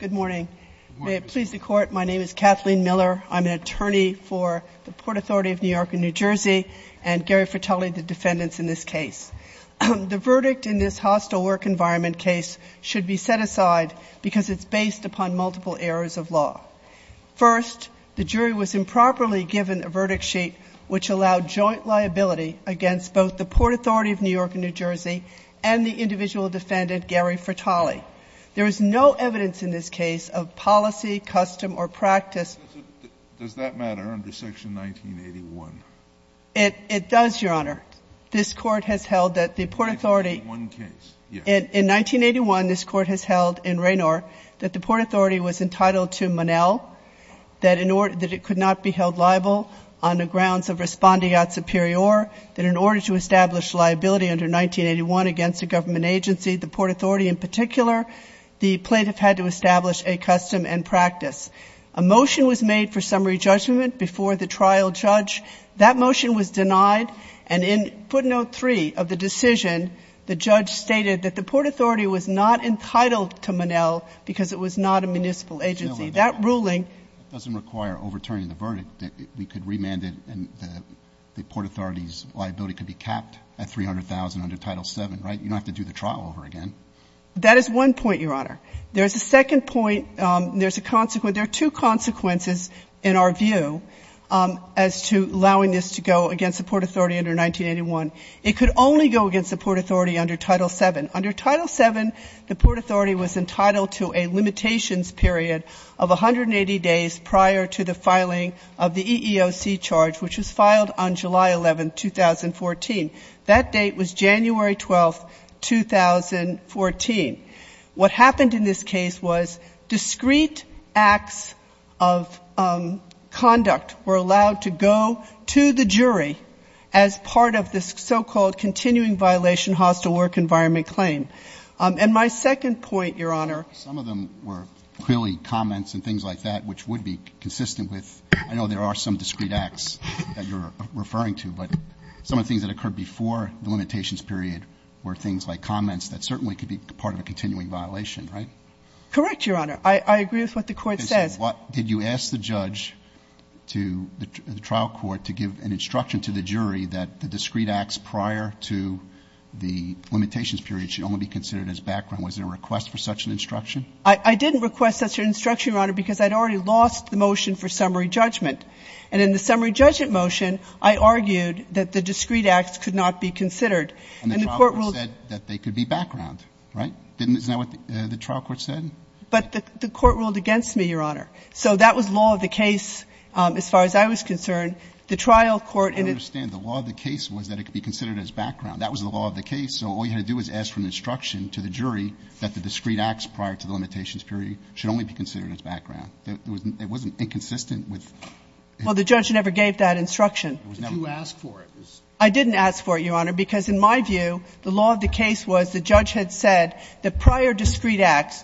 Good morning. May it please the Court, my name is Kathleen Miller. I'm an attorney for the Port Authority of New York and New Jersey and Gary Fratelli, the defendants in this case. The verdict in this hostile work environment case should be set aside because it's based upon multiple errors of law. First, the jury was improperly given a verdict sheet which allowed joint liability against both the Port Authority of New York and New Jersey and the individual defendant, Gary Fratelli. There is no evidence in this case of policy, custom, or practice. Does that matter under Section 1981? It does, Your Honor. This Court has held that the Port Authority In 1981 case, yes. In 1981, this Court has held in Raynor that the Port Authority was entitled to Monell, that it could not be held liable on the grounds of respondeat superior, that in order to establish liability under 1981 against a government agency, the Port Authority in particular, the plaintiff had to establish a custom and practice. A motion was made for summary judgment before the trial judge. That motion was denied, and in footnote 3 of the decision, the judge stated that the Port Authority was not entitled to Monell because it was not a municipal agency. That ruling Doesn't require overturning the verdict. We could remand it and the Port Authority's liability could be capped at $300,000 under Title VII, right? You don't have to do the trial over again. That is one point, Your Honor. There's a second point. There's a consequence. There are two consequences in our view as to allowing this to go against the Port Authority under 1981. It could only go against the Port Authority under Title VII. Under Title VII, the Port Authority was entitled to a limitations period of 180 days prior to the filing of the EEOC charge, which was filed on July 11, 2014. That date was January 12, 2014. What happened in this case was discrete acts of conduct were allowed to go to the jury as part of this so-called continuing violation hostile work environment claim. And my second point, Your Honor. Some of them were clearly comments and things like that, which would be consistent with, I know there are some discrete acts that you're referring to, but some of the things that occurred before the limitations period were things like comments that certainly could be part of a continuing violation, right? Correct, Your Honor. I agree with what the Court says. Did you ask the judge to, the trial court, to give an instruction to the jury that the discrete acts prior to the limitations period should only be considered as background? Was there a request for such an instruction? I didn't request such an instruction, Your Honor, because I'd already lost the motion for summary judgment. And in the summary judgment motion, I argued that the discrete acts could not be considered. And the court ruled And the trial court said that they could be background, right? Isn't that what the trial court said? But the court ruled against me, Your Honor. So that was law of the case as far as I was concerned. The trial court in its I understand. The law of the case was that it could be considered as background. That was the law of the case. So all you had to do was ask for an instruction to the jury that the discrete acts prior to the limitations period should only be considered as background. It wasn't inconsistent with Well, the judge never gave that instruction. Did you ask for it? I didn't ask for it, Your Honor, because in my view, the law of the case was the judge had said that prior discrete acts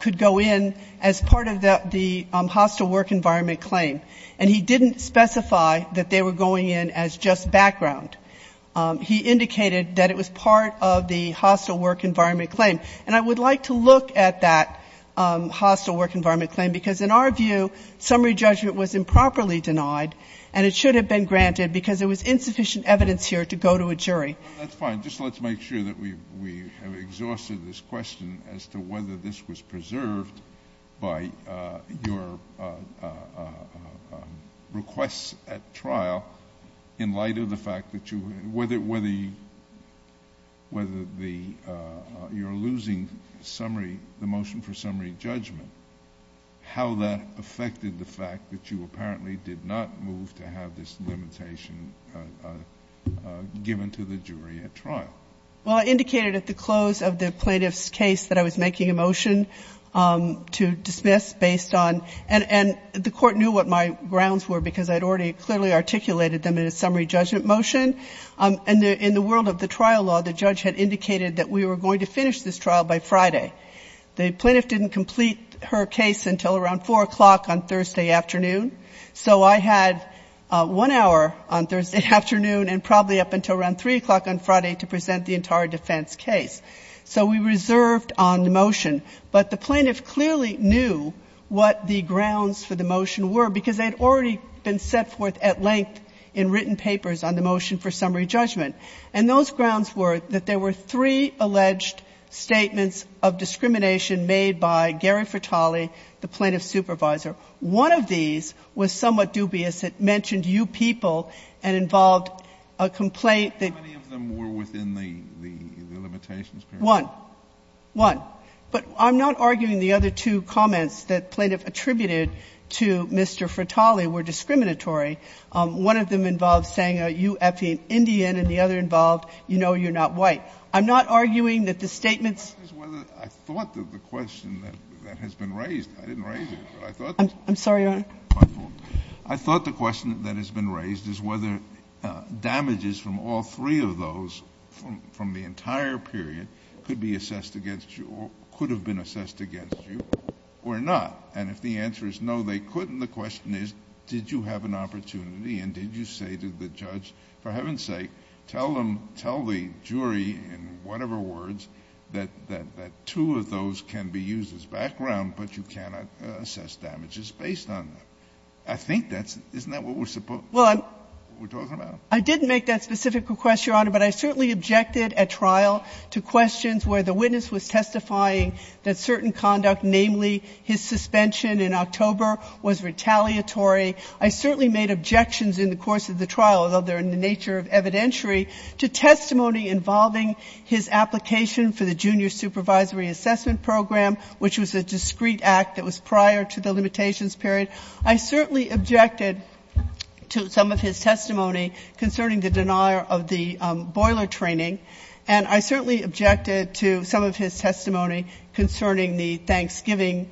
could go in as part of the hostile work environment claim. And he didn't specify that they were going in as just background. He indicated that it was part of the hostile work environment claim. And I would like to look at that hostile work environment claim, because in our view, summary judgment was improperly denied, and it should have been granted because there was insufficient evidence here to go to a jury. Well, that's fine. Just let's make sure that we have exhausted this question as to whether this was preserved by your requests at trial in light of the fact that you were the ‑‑ whether the ‑‑ you're losing summary ‑‑ the motion for summary judgment, how that affected the fact that you apparently did not move to have this limitation given to the jury at trial? Well, I indicated at the close of the plaintiff's case that I was making a motion to dismiss based on ‑‑ and the court knew what my grounds were because I had already clearly articulated them in a summary judgment motion. And in the world of the trial law, the judge had indicated that we were going to finish this trial by Friday. The plaintiff didn't complete her case until around 4 o'clock on Thursday afternoon. So I had one hour on Thursday afternoon and probably up until around 3 o'clock on Friday to present the entire defense case. So we reserved on the motion. But the plaintiff clearly knew what the grounds for the motion were because they had already been set forth at length in written papers on the motion for summary judgment. And those grounds were that there were three alleged statements of discrimination made by Gary Fratali, the plaintiff's supervisor. One of these was somewhat dubious. It mentioned you people and involved a complaint that ‑‑ How many of them were within the limitations period? One. One. But I'm not arguing the other two comments that the plaintiff attributed to Mr. Fratali were discriminatory. One of them involved saying you effing Indian and the other involved you know you're not white. I'm not arguing that the statements ‑‑ I thought that the question that has been raised, I didn't raise it, but I thought ‑‑ I'm sorry, Your Honor. My fault. I thought the question that has been raised is whether damages from all three of those from the entire period could be assessed against you or could have been assessed against you or not. And if the answer is no, they couldn't, the question is did you have an opportunity and did you say to the judge, for heaven's sake, tell them, tell the jury in whatever words that two of those can be used as background, but you cannot assess damages based on them. I think that's ‑‑ isn't that what we're supposed to be talking about? I didn't make that specific request, Your Honor, but I certainly objected at trial to questions where the witness was testifying that certain conduct, namely his suspension in October, was retaliatory. I certainly made objections in the course of the trial, although they're in the nature of evidentiary, to testimony involving his application for the junior supervisory assessment program, which was a discrete act that was prior to the limitations period. I certainly objected to some of his testimony concerning the denial of the boiler training, and I certainly objected to some of his testimony concerning the Thanksgiving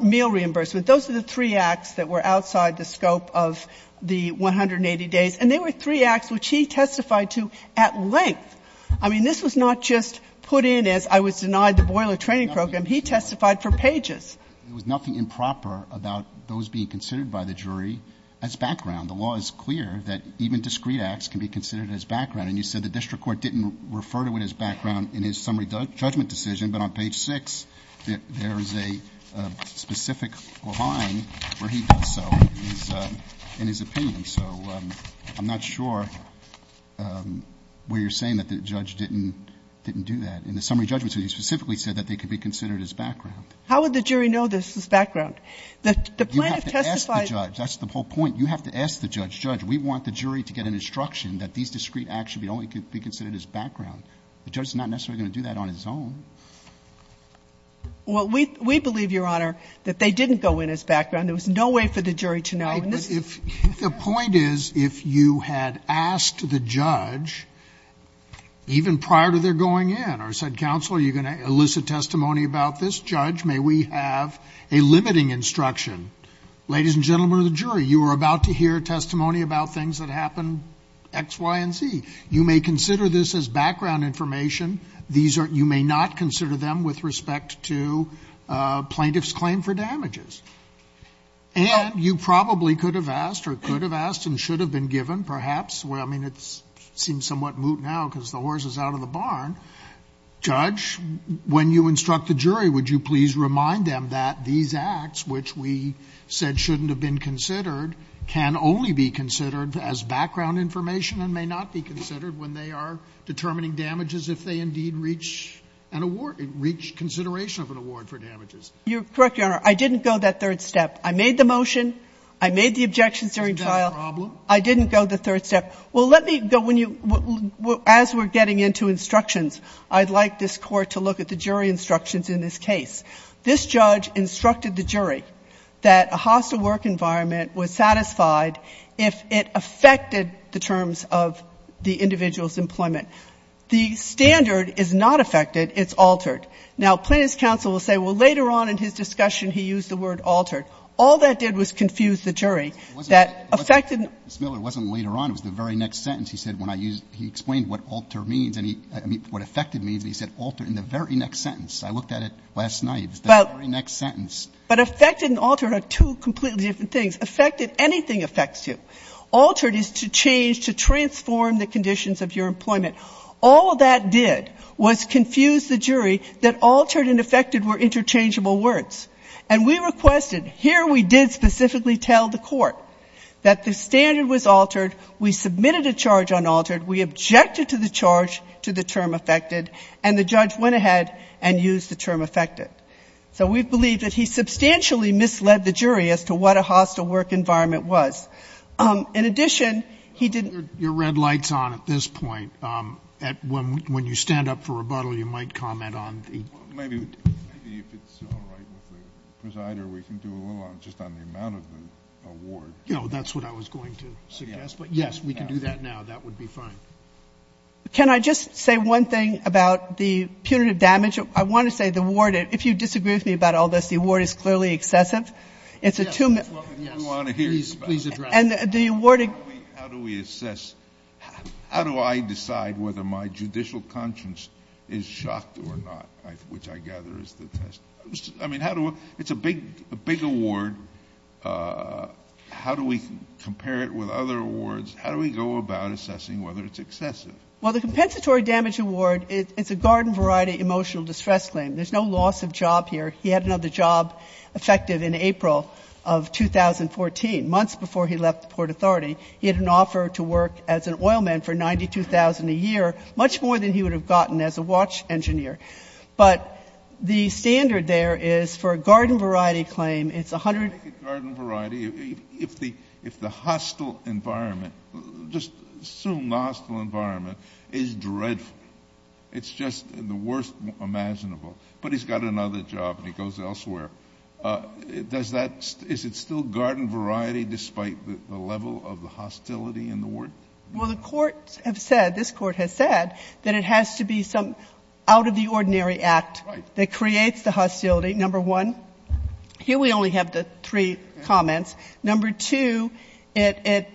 meal reimbursement. Those are the three acts that were outside the scope of the 180 days, and they were three acts which he testified to at length. I mean, this was not just put in as I was denied the boiler training program. He testified for pages. There was nothing improper about those being considered by the jury as background. The law is clear that even discrete acts can be considered as background. And you said the district court didn't refer to it as background in his summary judgment decision, but on page 6, there is a specific line where he does so in his opinion. So I'm not sure where you're saying that the judge didn't do that. In the summary judgment, he specifically said that they could be considered as background. How would the jury know this is background? The plaintiff testified. You have to ask the judge. That's the whole point. You have to ask the judge. Judge, we want the jury to get an instruction that these discrete acts should only be considered as background. The judge is not necessarily going to do that on his own. Well, we believe, Your Honor, that they didn't go in as background. There was no way for the jury to know. But if the point is if you had asked the judge even prior to their going in or said, counsel, are you going to elicit testimony about this? Judge, may we have a limiting instruction? Ladies and gentlemen of the jury, you are about to hear testimony about things that happened X, Y, and Z. You may consider this as background information. You may not consider them with respect to plaintiff's claim for damages. And you probably could have asked or could have asked and should have been given perhaps. Your Honor, judge, when you instruct the jury, would you please remind them that these acts, which we said shouldn't have been considered, can only be considered as background information and may not be considered when they are determining damages if they indeed reach an award, reach consideration of an award for damages? You're correct, Your Honor. I didn't go that third step. I made the motion. I made the objections during trial. Isn't that a problem? I didn't go the third step. Well, let me go, as we're getting into instructions, I'd like this Court to look at the jury instructions in this case. This judge instructed the jury that a hostile work environment was satisfied if it affected the terms of the individual's employment. The standard is not affected. It's altered. Now, plaintiff's counsel will say, well, later on in his discussion, he used the word altered. All that did was confuse the jury. Ms. Miller, it wasn't later on. It was the very next sentence. He said when I used, he explained what altered means and he, I mean, what affected means, and he said altered in the very next sentence. I looked at it last night. It was the very next sentence. But affected and altered are two completely different things. Affected, anything affects you. Altered is to change, to transform the conditions of your employment. All that did was confuse the jury that altered and affected were interchangeable words. And we requested, here we did specifically tell the court that the standard was altered, we submitted a charge on altered, we objected to the charge to the term affected, and the judge went ahead and used the term affected. So we believe that he substantially misled the jury as to what a hostile work environment was. In addition, he didn't ---- Your red light's on at this point. When you stand up for rebuttal, you might comment on the ---- Maybe if it's all right with the presider, we can do a little on just on the amount of the award. No, that's what I was going to suggest. But, yes, we can do that now. That would be fine. Can I just say one thing about the punitive damage? I want to say the award, if you disagree with me about all this, the award is clearly excessive. It's a two ---- If you want to hear about it. Please address it. And the award ---- How do we assess? How do I decide whether my judicial conscience is shocked or not? Which I gather is the test. I mean, how do we ---- It's a big award. How do we compare it with other awards? How do we go about assessing whether it's excessive? Well, the compensatory damage award, it's a garden variety emotional distress claim. There's no loss of job here. He had another job effective in April of 2014, months before he left the Port Authority. He had an offer to work as an oilman for $92,000 a year, much more than he would have gotten as a watch engineer. But the standard there is for a garden variety claim, it's a hundred ---- Garden variety, if the hostile environment, just assume the hostile environment, is dreadful, it's just the worst imaginable, but he's got another job and he goes elsewhere, does that ---- is it still garden variety despite the level of the hostility in the word? Well, the courts have said, this Court has said, that it has to be some out-of-the-ordinary act that creates the hostility, number one. Here we only have the three comments. Number two, it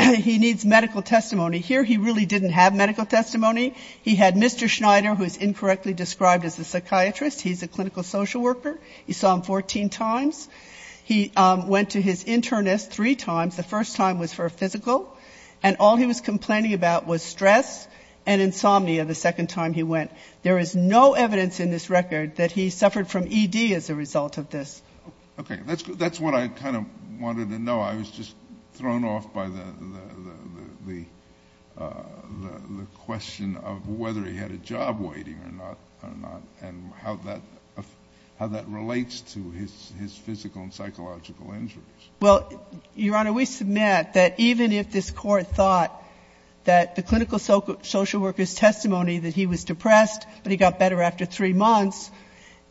---- he needs medical testimony. Here he really didn't have medical testimony. He had Mr. Schneider, who is incorrectly described as a psychiatrist. He's a clinical social worker. You saw him 14 times. He went to his internist three times. The first time was for a physical, and all he was complaining about was stress and insomnia the second time he went. There is no evidence in this record that he suffered from ED as a result of this. Okay. That's what I kind of wanted to know. I was just thrown off by the question of whether he had a job waiting or not, and how that relates to his physical and psychological injuries. Well, Your Honor, we submit that even if this Court thought that the clinical social worker's testimony that he was depressed, but he got better after three months,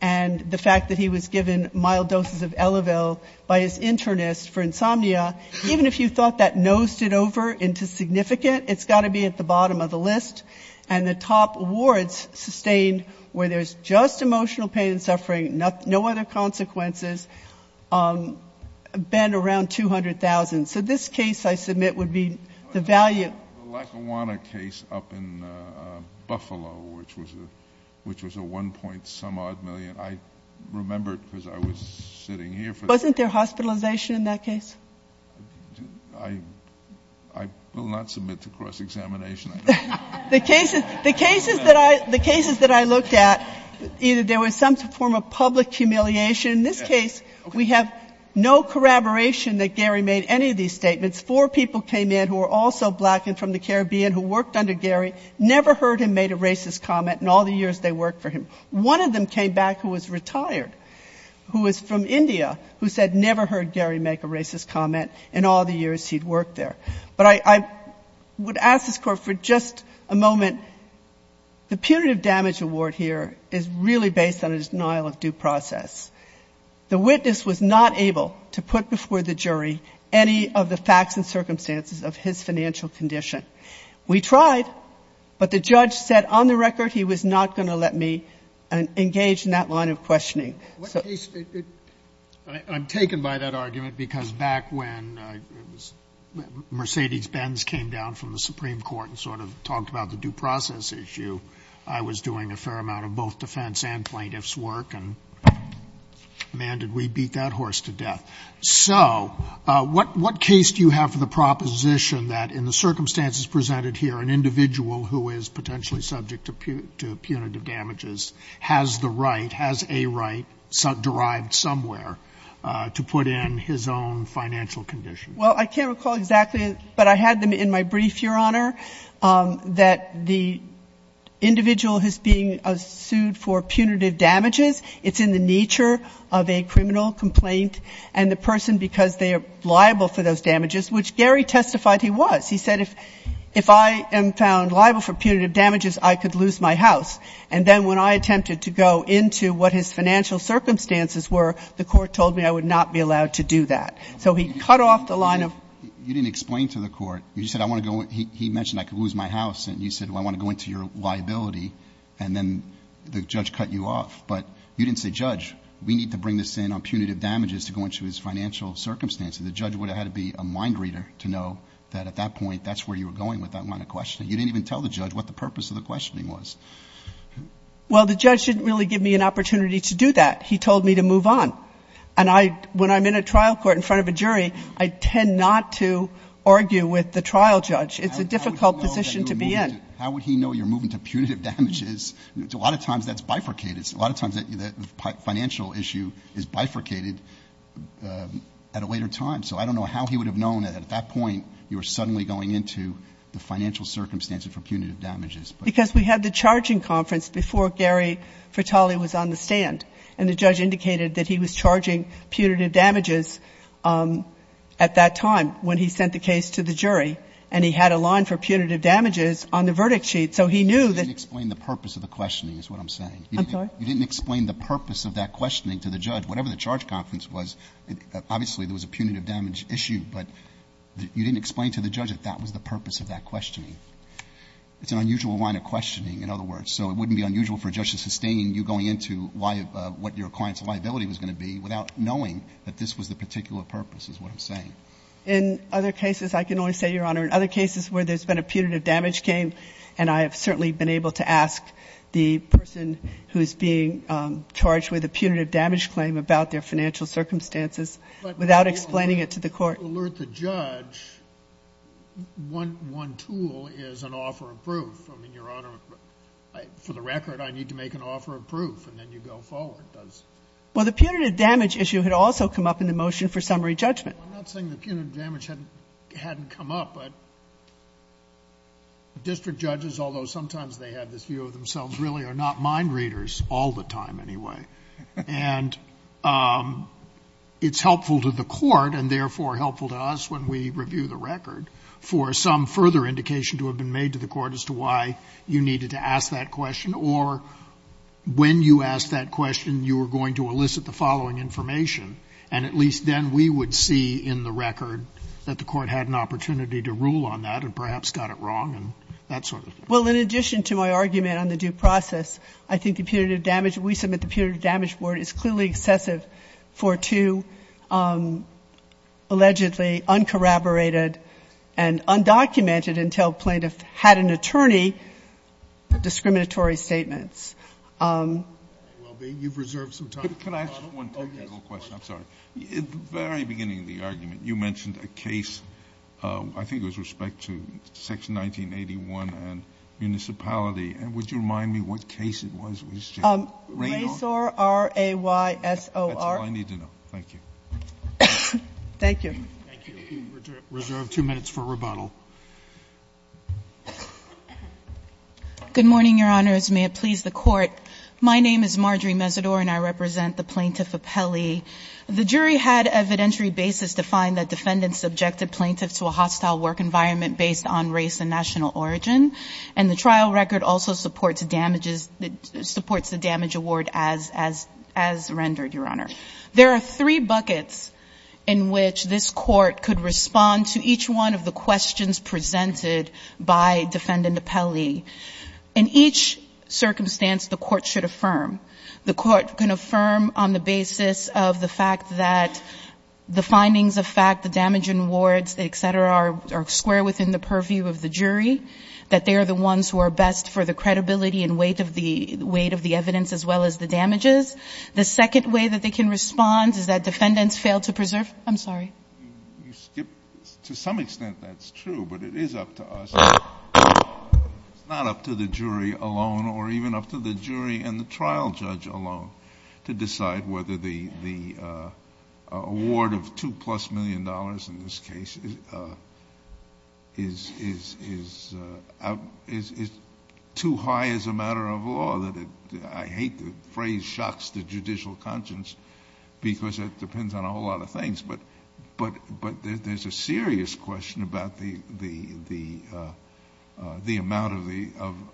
and the fact that he was given mild doses of Elevil by his internist for insomnia, even if you thought that nosed it over into significant, it's got to be at the bottom of the list. And the top awards sustained where there's just emotional pain and suffering, no other consequences, been around 200,000. So this case, I submit, would be the value. The Lackawanna case up in Buffalo, which was a one-point-some-odd million, I remember it because I was sitting here. Wasn't there hospitalization in that case? I will not submit to cross-examination. The cases that I looked at, either there was some form of public humiliation. In this case, we have no corroboration that Gary made any of these statements. Four people came in who were also black and from the Caribbean who worked under Gary, never heard him make a racist comment in all the years they worked for him. One of them came back who was retired, who was from India, who said never heard Gary make a racist comment in all the years he'd worked there. But I would ask this Court for just a moment. The punitive damage award here is really based on a denial of due process. The witness was not able to put before the jury any of the facts and circumstances of his financial condition. We tried, but the judge said on the record he was not going to let me engage in that line of questioning. Scalia. I'm taken by that argument because back when Mercedes Benz came down from the Supreme Court and sort of talked about the due process issue, I was doing a fair amount of both defense and plaintiff's work and, man, did we beat that horse to death. So what case do you have for the proposition that in the circumstances presented here, an individual who is potentially subject to punitive damages has the right, has a right derived somewhere to put in his own financial condition? Well, I can't recall exactly, but I had them in my brief, Your Honor, that the individual who's being sued for punitive damages, it's in the nature of a criminal complaint and the person, because they are liable for those damages, which Gary testified he was, he said, if I am found liable for punitive damages, I could lose my house. And then when I attempted to go into what his financial circumstances were, the Court told me I would not be allowed to do that. So he cut off the line of ---- You didn't explain to the Court. You said, I want to go into, he mentioned I could lose my house, and you said, well, I want to go into your liability, and then the judge cut you off. But you didn't say, Judge, we need to bring this in on punitive damages to go into his financial circumstances. The judge would have had to be a mind reader to know that at that point that's where you were going with that line of questioning. You didn't even tell the judge what the purpose of the questioning was. Well, the judge didn't really give me an opportunity to do that. He told me to move on. And I, when I'm in a trial court in front of a jury, I tend not to argue with the trial judge. It's a difficult position to be in. How would he know you're moving to punitive damages? A lot of times that's bifurcated. A lot of times the financial issue is bifurcated at a later time. So I don't know how he would have known that at that point you were suddenly going into the financial circumstances for punitive damages. Because we had the charging conference before Gary Fratelli was on the stand, and the judge indicated that he was charging punitive damages at that time when he sent the case to the jury. And he had a line for punitive damages on the verdict sheet. So he knew that. You didn't explain the purpose of the questioning is what I'm saying. I'm sorry? You didn't explain the purpose of that questioning to the judge. Whatever the charge conference was, obviously there was a punitive damage issue. But you didn't explain to the judge that that was the purpose of that questioning. It's an unusual line of questioning, in other words. So it wouldn't be unusual for a judge to sustain you going into what your client's liability was going to be without knowing that this was the particular purpose is what I'm saying. In other cases, I can only say, Your Honor, in other cases where there's been a punitive damage claim, and I have certainly been able to ask the person who's being charged with a punitive damage claim about their financial circumstances without explaining it to the court. But to alert the judge, one tool is an offer of proof. I mean, Your Honor, for the record, I need to make an offer of proof, and then you go forward. Well, the punitive damage issue had also come up in the motion for summary judgment. Well, I'm not saying the punitive damage hadn't come up, but district judges, although sometimes they have this view of themselves, really are not mind readers all the time anyway. And it's helpful to the court, and therefore helpful to us when we review the record, for some further indication to have been made to the court as to why you needed to ask that question or when you asked that question, you were going to elicit the following information. And at least then we would see in the record that the court had an opportunity to rule on that and perhaps got it wrong and that sort of thing. Well, in addition to my argument on the due process, I think the punitive damage, we submit the punitive damage board is clearly excessive for two allegedly uncorroborated and undocumented until plaintiff had an attorney discriminatory statements. Well, you've reserved some time. Can I ask one technical question? I'm sorry. At the very beginning of the argument, you mentioned a case, I think it was respect to section 1981 and municipality. And would you remind me what case it was? Raysor? R-A-Y-S-O-R. That's all I need to know. Thank you. Thank you. Thank you. We reserve two minutes for rebuttal. Good morning, Your Honors. May it please the Court. My name is Marjorie Mesidor, and I represent the Plaintiff Appellee. The jury had evidentiary basis to find that defendants subjected plaintiffs to a hostile work environment based on race and national origin. And the trial record also supports the damage award as rendered, Your Honor. There are three buckets in which this Court could respond to each one of the questions presented by Defendant Appellee. In each circumstance, the Court should affirm. The Court can affirm on the basis of the fact that the findings of fact, the damage and awards, et cetera, are square within the purview of the jury, that they are the ones who are best for the credibility and weight of the evidence as well as the damages. The second way that they can respond is that defendants fail to preserve the evidence. I'm sorry. To some extent, that's true, but it is up to us. It's not up to the jury alone or even up to the jury and the trial judge alone to decide whether the award of $2-plus million in this case is too high as a matter of law. I hate the phrase shocks the judicial conscience because it depends on a whole lot of things. But there's a serious question about the amount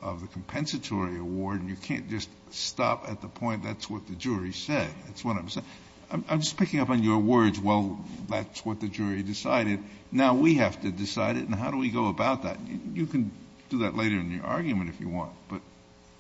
of the compensatory award. And you can't just stop at the point that's what the jury said. That's what I'm saying. I'm just picking up on your words, well, that's what the jury decided. Now we have to decide it. And how do we go about that? You can do that later in your argument if you want. But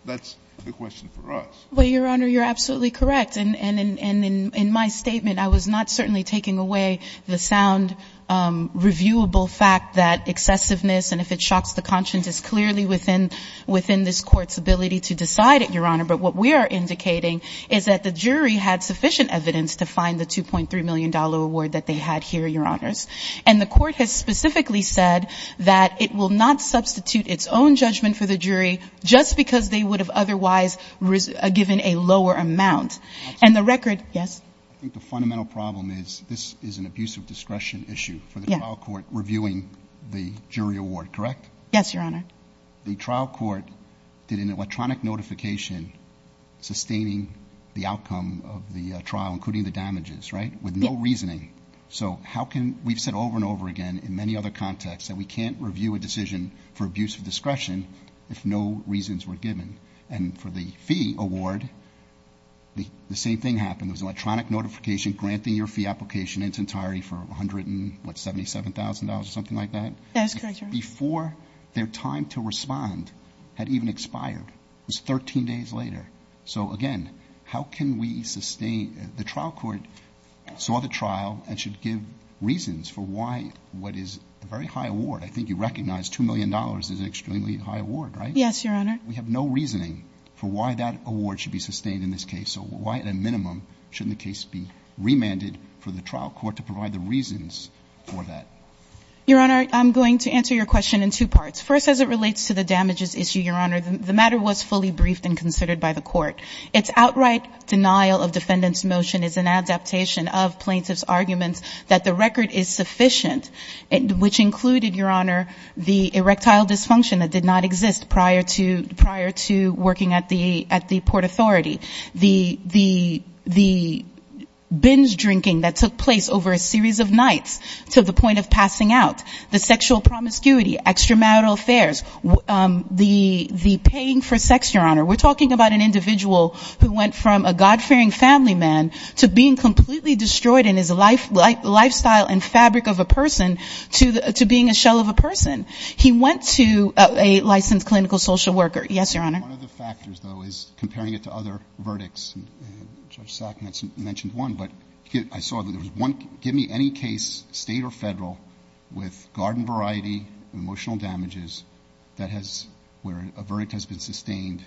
that's the question for us. Well, Your Honor, you're absolutely correct. And in my statement, I was not certainly taking away the sound reviewable fact that excessiveness and if it shocks the conscience is clearly within this Court's ability to decide it, Your Honor. But what we are indicating is that the jury had sufficient evidence to find the $2.3 million award that they had here, Your Honors. And the Court has specifically said that it will not substitute its own judgment for the jury just because they would have otherwise given a lower amount. And the record, yes? I think the fundamental problem is this is an abuse of discretion issue for the trial court reviewing the jury award, correct? Yes, Your Honor. The trial court did an electronic notification sustaining the outcome of the trial, including the damages, right, with no reasoning. So how can we've said over and over again in many other contexts that we can't review a decision for abuse of discretion if no reasons were given. And for the fee award, the same thing happened. It was an electronic notification granting your fee application in its entirety for $177,000 or something like that. That is correct, Your Honor. Before their time to respond had even expired. It was 13 days later. So, again, how can we sustain? The trial court saw the trial and should give reasons for why what is a very high award. I think you recognize $2 million is an extremely high award, right? Yes, Your Honor. We have no reasoning for why that award should be sustained in this case. So why, at a minimum, shouldn't the case be remanded for the trial court to provide the reasons for that? Your Honor, I'm going to answer your question in two parts. First, as it relates to the damages issue, Your Honor, the matter was fully briefed and considered by the court. Its outright denial of defendant's motion is an adaptation of plaintiff's arguments that the record is sufficient, which included, Your Honor, the erectile dysfunction that did not exist prior to working at the Port Authority, the binge drinking that took place over a series of nights to the point of passing out, the sexual promiscuity, extramarital affairs, the paying for sex, Your Honor. We're talking about an individual who went from a God-fearing family man to being completely destroyed in his lifestyle and fabric of a person to being a shell of a person to a licensed clinical social worker. Yes, Your Honor. One of the factors, though, is comparing it to other verdicts. Judge Sackman mentioned one, but I saw that there was one. Give me any case, state or federal, with garden variety and emotional damages that has where a verdict has been sustained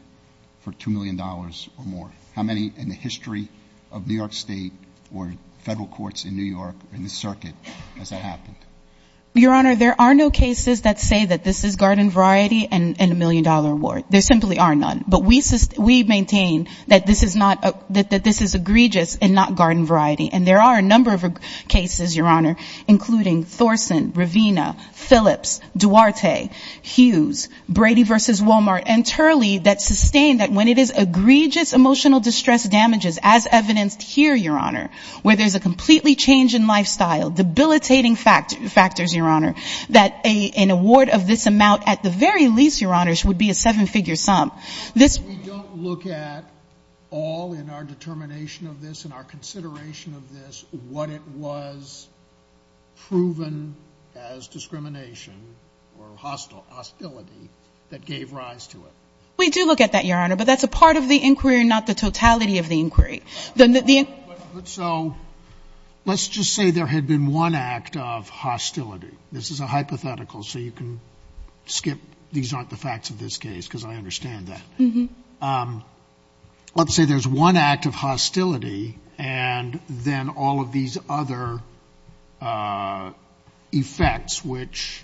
for $2 million or more. How many in the history of New York State or federal courts in New York in this circuit has that happened? Your Honor, there are no cases that say that this is garden variety and a million-dollar award. There simply are none. But we maintain that this is not, that this is egregious and not garden variety. And there are a number of cases, Your Honor, including Thorson, Ravina, Phillips, Duarte, Hughes, Brady v. Walmart, and Turley that sustain that when it is egregious emotional distress damages, as evidenced here, Your Honor, where there's a completely change in lifestyle, debilitating factors, Your Honor, that an award of this amount at the very least, Your Honors, would be a seven-figure sum. We don't look at all in our determination of this and our consideration of this what it was proven as discrimination or hostility that gave rise to it. We do look at that, Your Honor, but that's a part of the inquiry, not the totality of the inquiry. Then the end of the question is, so let's just say there had been one act of hostility. This is a hypothetical, so you can skip, these aren't the facts of this case, because I understand that. Let's say there's one act of hostility, and then all of these other effects, which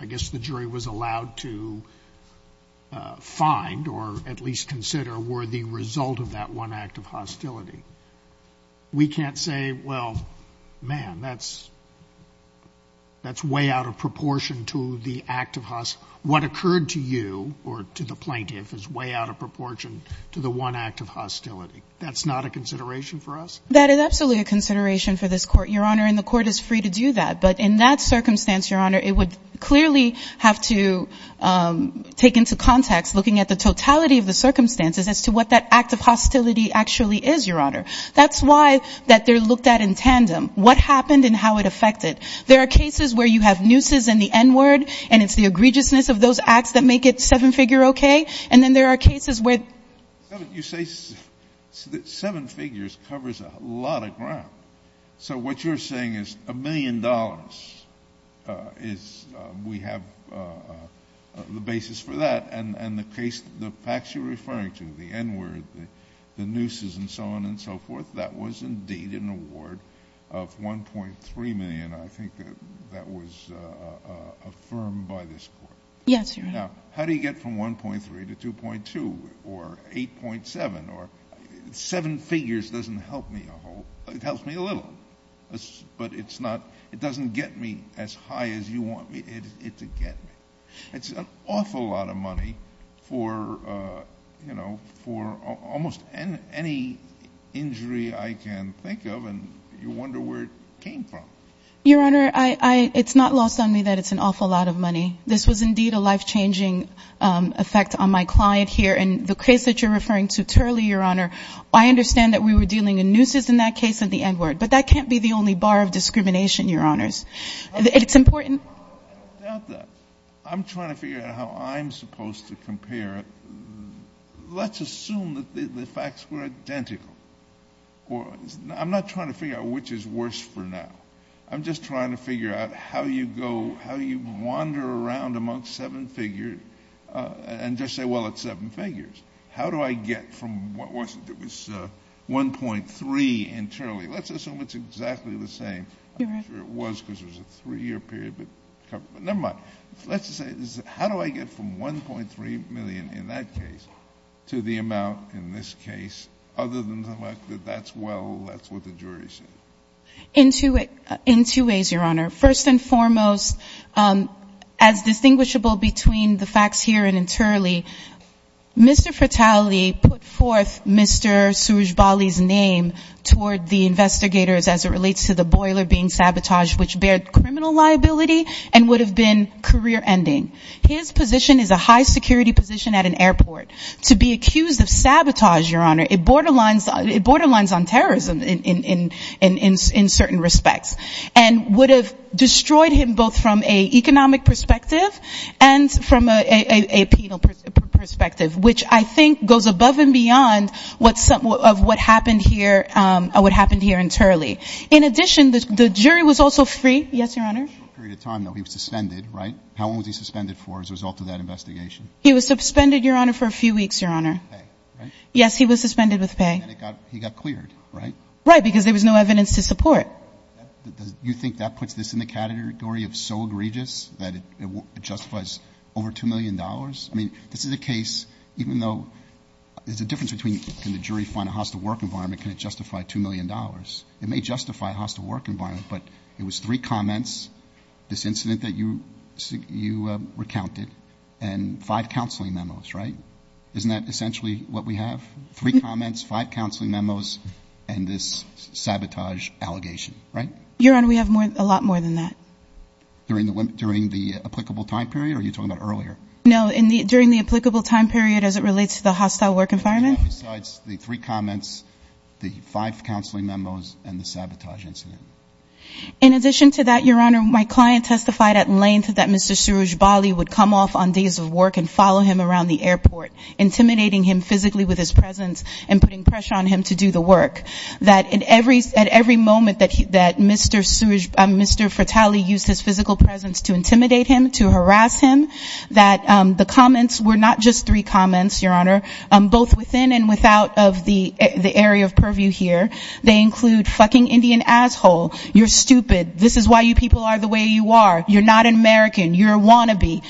I guess the jury was allowed to find or at least consider, were the result of that one act of hostility. We can't say, well, man, that's way out of proportion to the act of hostility. What occurred to you or to the plaintiff is way out of proportion to the one act of hostility. That's not a consideration for us? That is absolutely a consideration for this Court, Your Honor, and the Court is free to do that. But in that circumstance, Your Honor, it would clearly have to take into context looking at the totality of the circumstances as to what that act of hostility actually is, Your Honor. That's why that they're looked at in tandem, what happened and how it affected. There are cases where you have nooses in the N-word, and it's the egregiousness of those acts that make it seven-figure okay. And then there are cases where you say seven figures covers a lot of ground. So what you're saying is a million dollars, we have the basis for that, and the facts you're referring to, the N-word, the nooses, and so on and so forth, that was indeed an award of 1.3 million, I think that was affirmed by this Court. Yes, Your Honor. Now, how do you get from 1.3 to 2.2 or 8.7? Seven figures doesn't help me a whole, it helps me a little, but it doesn't get me as high as you want it to get me. It's an awful lot of money for almost any injury I can think of, and you wonder where it came from. Your Honor, it's not lost on me that it's an awful lot of money. This was indeed a life-changing effect on my client here. And the case that you're referring to, Turley, Your Honor, I understand that we were dealing in nooses in that case and the N-word. But that can't be the only bar of discrimination, Your Honors. It's important. I doubt that. I'm trying to figure out how I'm supposed to compare. Let's assume that the facts were identical. I'm not trying to figure out which is worse for now. I'm just trying to figure out how you go, how you wander around among seven figures and just say, well, it's seven figures. How do I get from what was 1.3 in Turley? Let's assume it's exactly the same. I'm not sure it was because it was a three-year period, but never mind. Let's just say, how do I get from 1.3 million in that case to the amount in this case other than the fact that that's well, that's what the jury said? In two ways, Your Honor. First and foremost, as distinguishable between the facts here and in Turley, Mr. Fratelli put forth Mr. Surjbali's name toward the investigators as it relates to the boiler being sabotaged, which bared criminal liability and would have been career-ending. His position is a high-security position at an airport. To be accused of sabotage, Your Honor, it borderlines on terrorism in certain respects. And would have destroyed him both from an economic perspective and from a penal perspective, which I think goes above and beyond what happened here in Turley. In addition, the jury was also free. Yes, Your Honor? A short period of time, though. He was suspended, right? How long was he suspended for as a result of that investigation? He was suspended, Your Honor, for a few weeks, Your Honor. Pay, right? Yes, he was suspended with pay. And then he got cleared, right? Right, because there was no evidence to support. You think that puts this in the category of so egregious that it justifies over $2 million? I mean, this is a case, even though there's a difference between can the jury find a hostile work environment, can it justify $2 million? It may justify a hostile work environment, but it was three comments, this incident that you recounted, and five counseling memos, right? Isn't that essentially what we have? Three comments, five counseling memos, and this sabotage allegation, right? Your Honor, we have a lot more than that. During the applicable time period, or are you talking about earlier? No, during the applicable time period as it relates to the hostile work environment. Besides the three comments, the five counseling memos, and the sabotage incident. In addition to that, Your Honor, my client testified at length that Mr. Suruj Bali would come off on days of work and follow him around the airport, intimidating him physically with his presence and putting pressure on him to do the work. That at every moment that Mr. Fratelli used his physical presence to intimidate him, to harass him, that the comments were not just three comments, Your Honor, both within and without of the area of purview here. They include fucking Indian asshole, you're stupid, this is why you people are the way you are, you're not an American, you're a wannabe,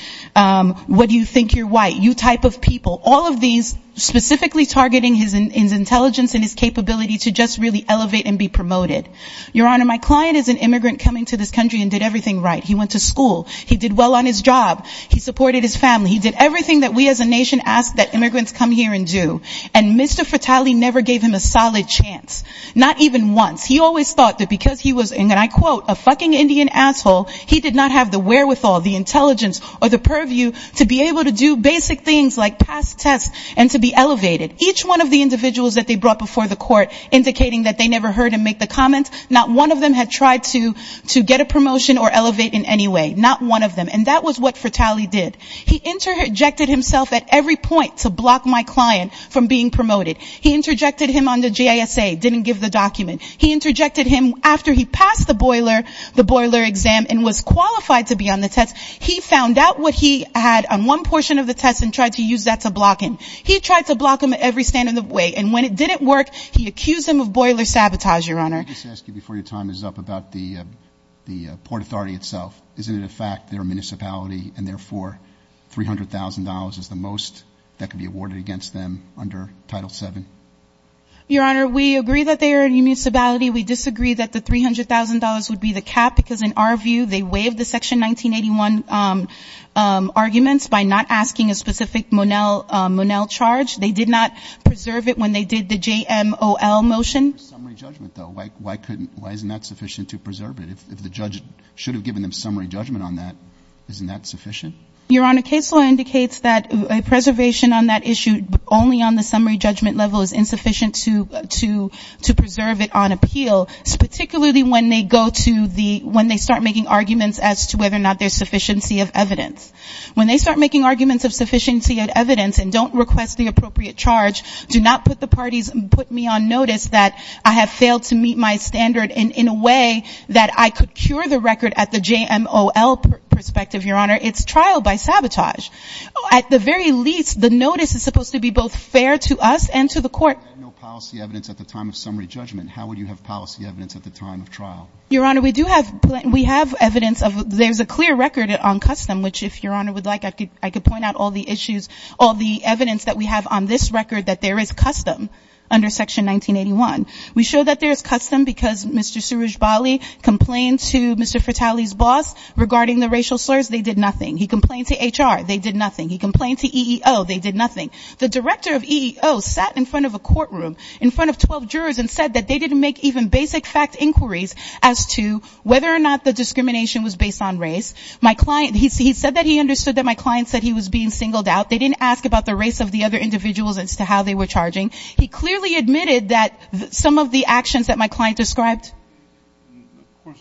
what do you think, you're white, you type of people, all of these specifically targeting his intelligence and his capability to just really elevate and be promoted. Your Honor, my client is an immigrant coming to this country and did everything right. He went to school, he did well on his job, he supported his family, he did everything that we as a nation ask that immigrants come here and do. And Mr. Fratelli never gave him a solid chance. Not even once. He always thought that because he was, and I quote, a fucking Indian asshole, he did not have the wherewithal, the intelligence or the purview to be able to do basic things like pass tests and to be elevated. Each one of the individuals that they brought before the court indicating that they never heard him make the comments, not one of them had tried to get a promotion or elevate in any way. Not one of them. And that was what Fratelli did. He interjected himself at every point to block my client from being promoted. He interjected him on the JSA, didn't give the document. He interjected him after he passed the boiler exam and was qualified to be on the test. He found out what he had on one portion of the test and tried to use that to block him. He tried to block him every stand in the way. And when it didn't work, he accused him of boiler sabotage, Your Honor. Let me just ask you before your time is up about the Port Authority itself. Isn't it a fact they're a municipality and therefore $300,000 is the most that can be awarded against them under Title VII? Your Honor, we agree that they are a municipality. We disagree that the $300,000 would be the cap because, in our view, they waived the Section 1981 arguments by not asking a specific Monell charge. They did not preserve it when they did the JMOL motion. Why isn't that sufficient to preserve it? If the judge should have given them summary judgment on that, isn't that sufficient? Your Honor, case law indicates that a preservation on that issue, only on the summary judgment level, is insufficient to preserve it on appeal, particularly when they go to the — when they start making arguments as to whether or not there's sufficiency of evidence. When they start making arguments of sufficiency of evidence and don't request the appropriate charge, do not put the parties — put me on notice that I have failed to meet my standard in a way that I could cure the record at the JMOL perspective, Your Honor. It's trial by sabotage. At the very least, the notice is supposed to be both fair to us and to the court. If you had no policy evidence at the time of summary judgment, how would you have policy evidence at the time of trial? Your Honor, we do have — we have evidence of — there's a clear record on custom, which, if Your Honor would like, I could point out all the issues, all the evidence that we have on this record that there is custom under Section 1981. We show that there is custom because Mr. Surujbali complained to Mr. Fratelli's boss regarding the racial slurs. They did nothing. He complained to HR. They did nothing. He complained to EEO. They did nothing. The director of EEO sat in front of a courtroom in front of 12 jurors and said that they didn't make even basic fact inquiries as to whether or not the discrimination was based on race. My client — he said that he understood that my client said he was being singled out. They didn't ask about the race of the other individuals as to how they were charging. He clearly admitted that some of the actions that my client described — I'm going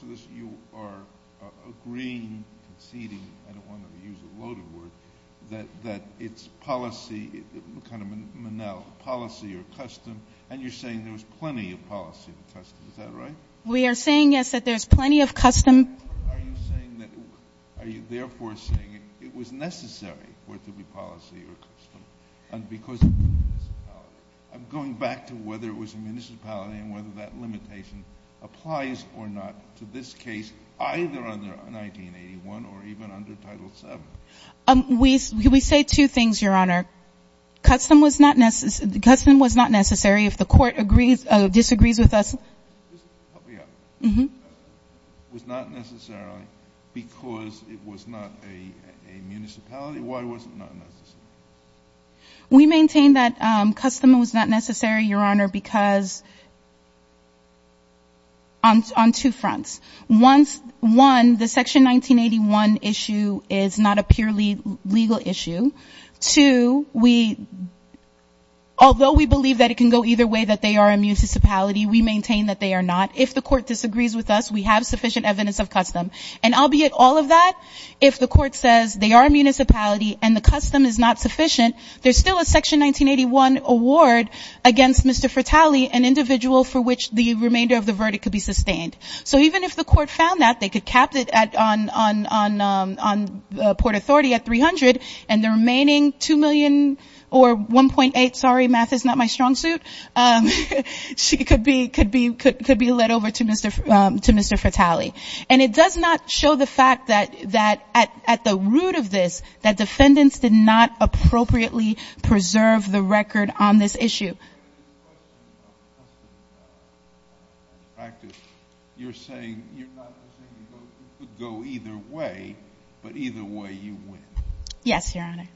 to use a loaded word — that it's policy, kind of Manel, policy or custom, and you're saying there was plenty of policy or custom. Is that right? We are saying, yes, that there's plenty of custom. Are you saying that — are you, therefore, saying it was necessary for it to be policy or custom because of the municipality? I'm going back to whether it was the municipality and whether that limitation applies or not to this case either under 1981 or even under Title VII. We say two things, Your Honor. Custom was not necessary. If the court disagrees with us — Help me out. It was not necessary because it was not a municipality? Why was it not necessary? We maintain that custom was not necessary, Your Honor, because — on two fronts. One, the Section 1981 issue is not a purely legal issue. Two, although we believe that it can go either way, that they are a municipality, we maintain that they are not. If the court disagrees with us, we have sufficient evidence of custom. And albeit all of that, if the court says they are a municipality and the custom is not sufficient, there's still a Section 1981 award against Mr. Fratalli, an individual for which the remainder of the verdict could be sustained. So even if the court found that, they could cap it on Port Authority at $300,000, and the remaining $2 million or $1.8 — sorry, math is not my strong suit — could be let over to Mr. Fratalli. And it does not show the fact that at the root of this, that defendants did not appropriately preserve the record on this issue. You're saying — you're not saying it could go either way, but either way you win. Yes, Your Honor.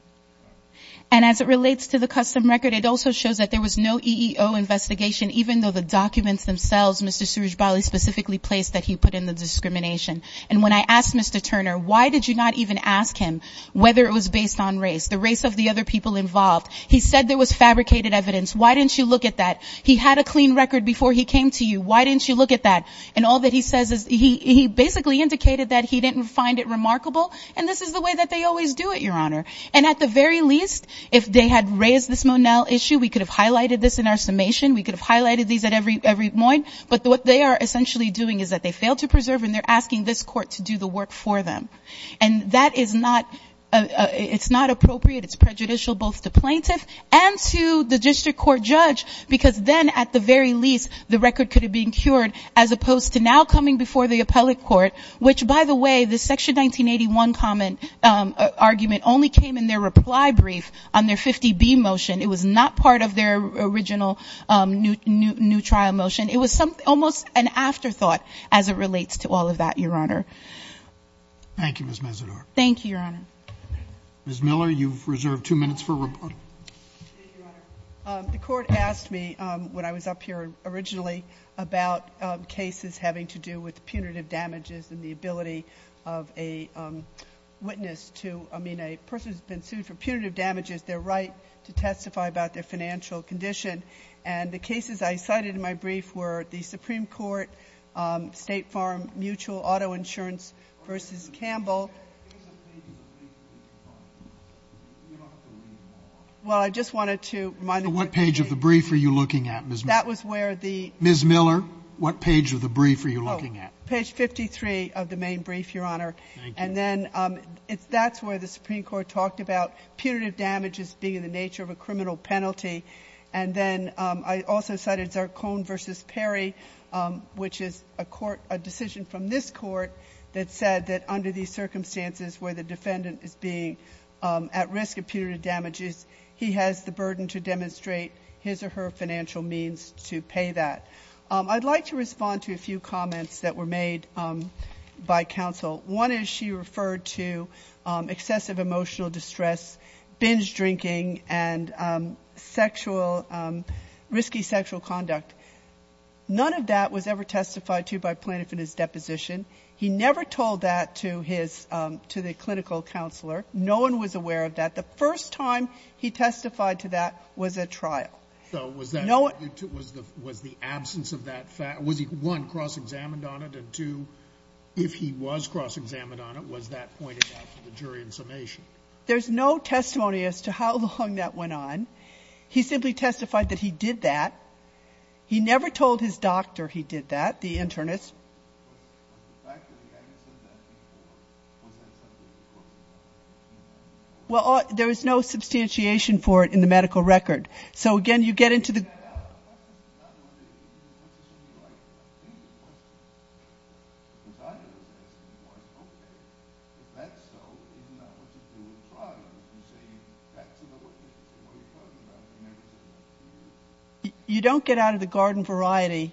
And as it relates to the custom record, it also shows that there was no EEO investigation, even though the documents themselves Mr. Surjbali specifically placed that he put in the discrimination. And when I asked Mr. Turner, why did you not even ask him whether it was based on race, the race of the other people involved? He said there was fabricated evidence. Why didn't you look at that? He had a clean record before he came to you. Why didn't you look at that? And all that he says is — he basically indicated that he didn't find it remarkable, and this is the way that they always do it, Your Honor. And at the very least, if they had raised this Monell issue, we could have highlighted this in our summation. We could have highlighted these at every point. But what they are essentially doing is that they fail to preserve, and they're asking this Court to do the work for them. And that is not — it's not appropriate. It's prejudicial both to plaintiff and to the district court judge, because then at the very least the record could have been cured, as opposed to now coming before the appellate court, which, by the way, the Section 1981 comment — argument only came in their reply brief on their 50B motion. It was not part of their original new trial motion. It was almost an afterthought as it relates to all of that, Your Honor. Thank you, Ms. Mesidor. Thank you, Your Honor. Ms. Miller, you've reserved two minutes for reporting. Thank you, Your Honor. The Court asked me, when I was up here originally, about cases having to do with punitive damages and the ability of a witness to — to testify about their financial condition. And the cases I cited in my brief were the Supreme Court State Farm Mutual Auto Insurance v. Campbell. What page of the brief are you looking at, Ms. Miller? That was where the — Ms. Miller, what page of the brief are you looking at? Page 53 of the main brief, Your Honor. Thank you. And then that's where the Supreme Court talked about punitive damages being in the nature of a criminal penalty. And then I also cited Zarkone v. Perry, which is a court — a decision from this court that said that under these circumstances where the defendant is being at risk of punitive damages, he has the burden to demonstrate his or her financial means to pay that. I'd like to respond to a few comments that were made by counsel. One is she referred to excessive emotional distress, binge drinking, and sexual — risky sexual conduct. None of that was ever testified to by Plaintiff in his deposition. He never told that to his — to the clinical counselor. No one was aware of that. The first time he testified to that was at trial. So was that — No one — Was the absence of that — was he, one, cross-examined on it, and two, if he was cross-examined on it, was that pointed out to the jury in summation? There's no testimony as to how long that went on. He simply testified that he did that. He never told his doctor he did that, the internist. Was the fact that the evidence said that to the court, was that something the court — Well, there was no substantiation for it in the medical record. So, again, you get into the — Yeah, I have a question. It's not one of the — it's not something you like to ask anymore. Because I don't ask anymore. Okay. If that's so, is it not what you do at trial? You say, that's about what you — what are you talking about? You don't get out of the garden variety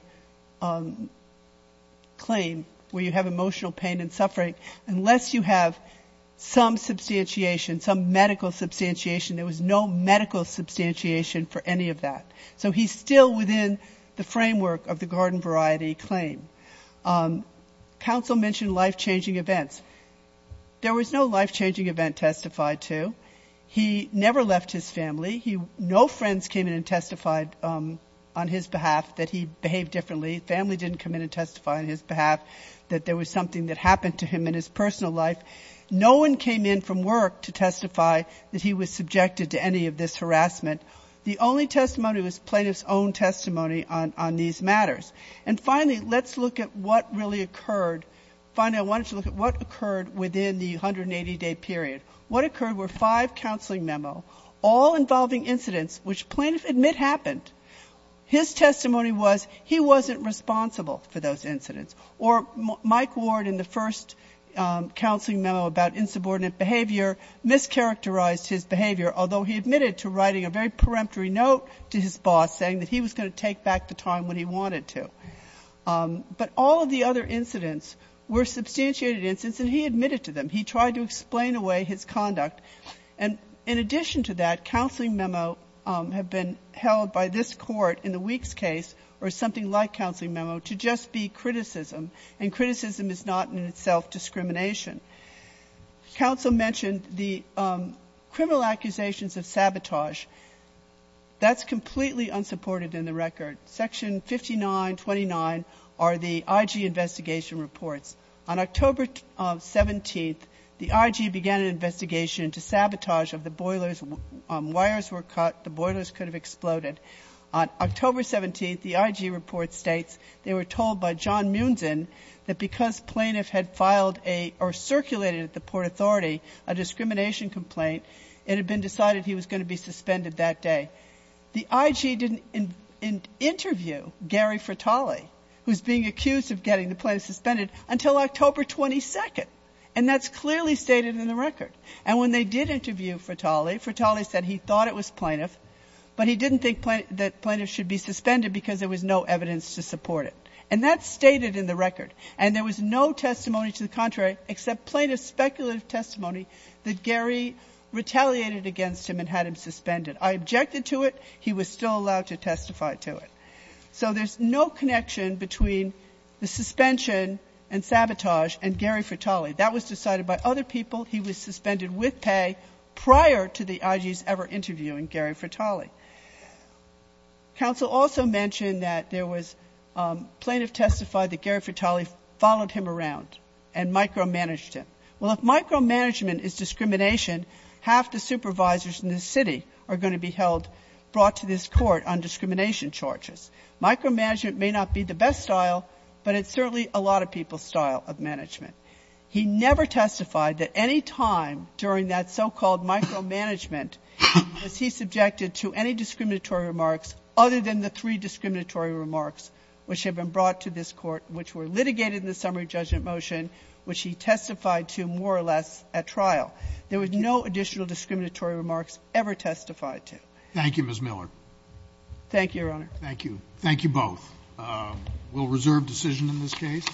claim where you have emotional pain and suffering unless you have some substantiation, some medical substantiation. There was no medical substantiation for any of that. So he's still within the framework of the garden variety claim. Counsel mentioned life-changing events. There was no life-changing event testified to. He never left his family. No friends came in and testified on his behalf that he behaved differently. Family didn't come in and testify on his behalf that there was something that happened to him in his personal life. No one came in from work to testify that he was subjected to any of this harassment. The only testimony was plaintiff's own testimony on these matters. And finally, let's look at what really occurred. Finally, I wanted to look at what occurred within the 180-day period. What occurred were five counseling memos, all involving incidents which plaintiff admit happened. His testimony was he wasn't responsible for those incidents. Or Mike Ward in the first counseling memo about insubordinate behavior mischaracterized his behavior, although he admitted to writing a very peremptory note to his boss saying that he was going to take back the time when he wanted to. But all of the other incidents were substantiated incidents, and he admitted to them. He tried to explain away his conduct. And in addition to that, counseling memos have been held by this Court in the Weeks case or something like counseling memo to just be criticism, and criticism is not in itself discrimination. Counsel mentioned the criminal accusations of sabotage. That's completely unsupported in the record. Section 5929 are the IG investigation reports. On October 17th, the IG began an investigation into sabotage of the boilers. Wires were cut. The boilers could have exploded. On October 17th, the IG report states they were told by John Muenzen that because plaintiff had filed a or circulated at the Port Authority a discrimination complaint, it had been decided he was going to be suspended that day. The IG didn't interview Gary Fratale, who's being accused of getting the plaintiff suspended, until October 22nd. And that's clearly stated in the record. And when they did interview Fratale, Fratale said he thought it was plaintiff, but he didn't think that plaintiff should be suspended because there was no evidence to support it. And that's stated in the record. And there was no testimony to the contrary except plaintiff's speculative testimony that Gary retaliated against him and had him suspended. I objected to it. He was still allowed to testify to it. So there's no connection between the suspension and sabotage and Gary Fratale. That was decided by other people. He was suspended with pay prior to the IG's ever interviewing Gary Fratale. Counsel also mentioned that there was plaintiff testified that Gary Fratale followed him around and micromanaged him. Well, if micromanagement is discrimination, half the supervisors in the city are going to be held, brought to this court on discrimination charges. Micromanagement may not be the best style, but it's certainly a lot of people's style of management. He never testified that any time during that so-called micromanagement was he subjected to any discriminatory remarks other than the three discriminatory remarks which had been brought to this court, which were litigated in the summary judgment motion, which he testified to more or less at trial. There was no additional discriminatory remarks ever testified to. Thank you, Ms. Miller. Thank you, Your Honor. Thank you. Thank you both. We'll reserve decision in this case.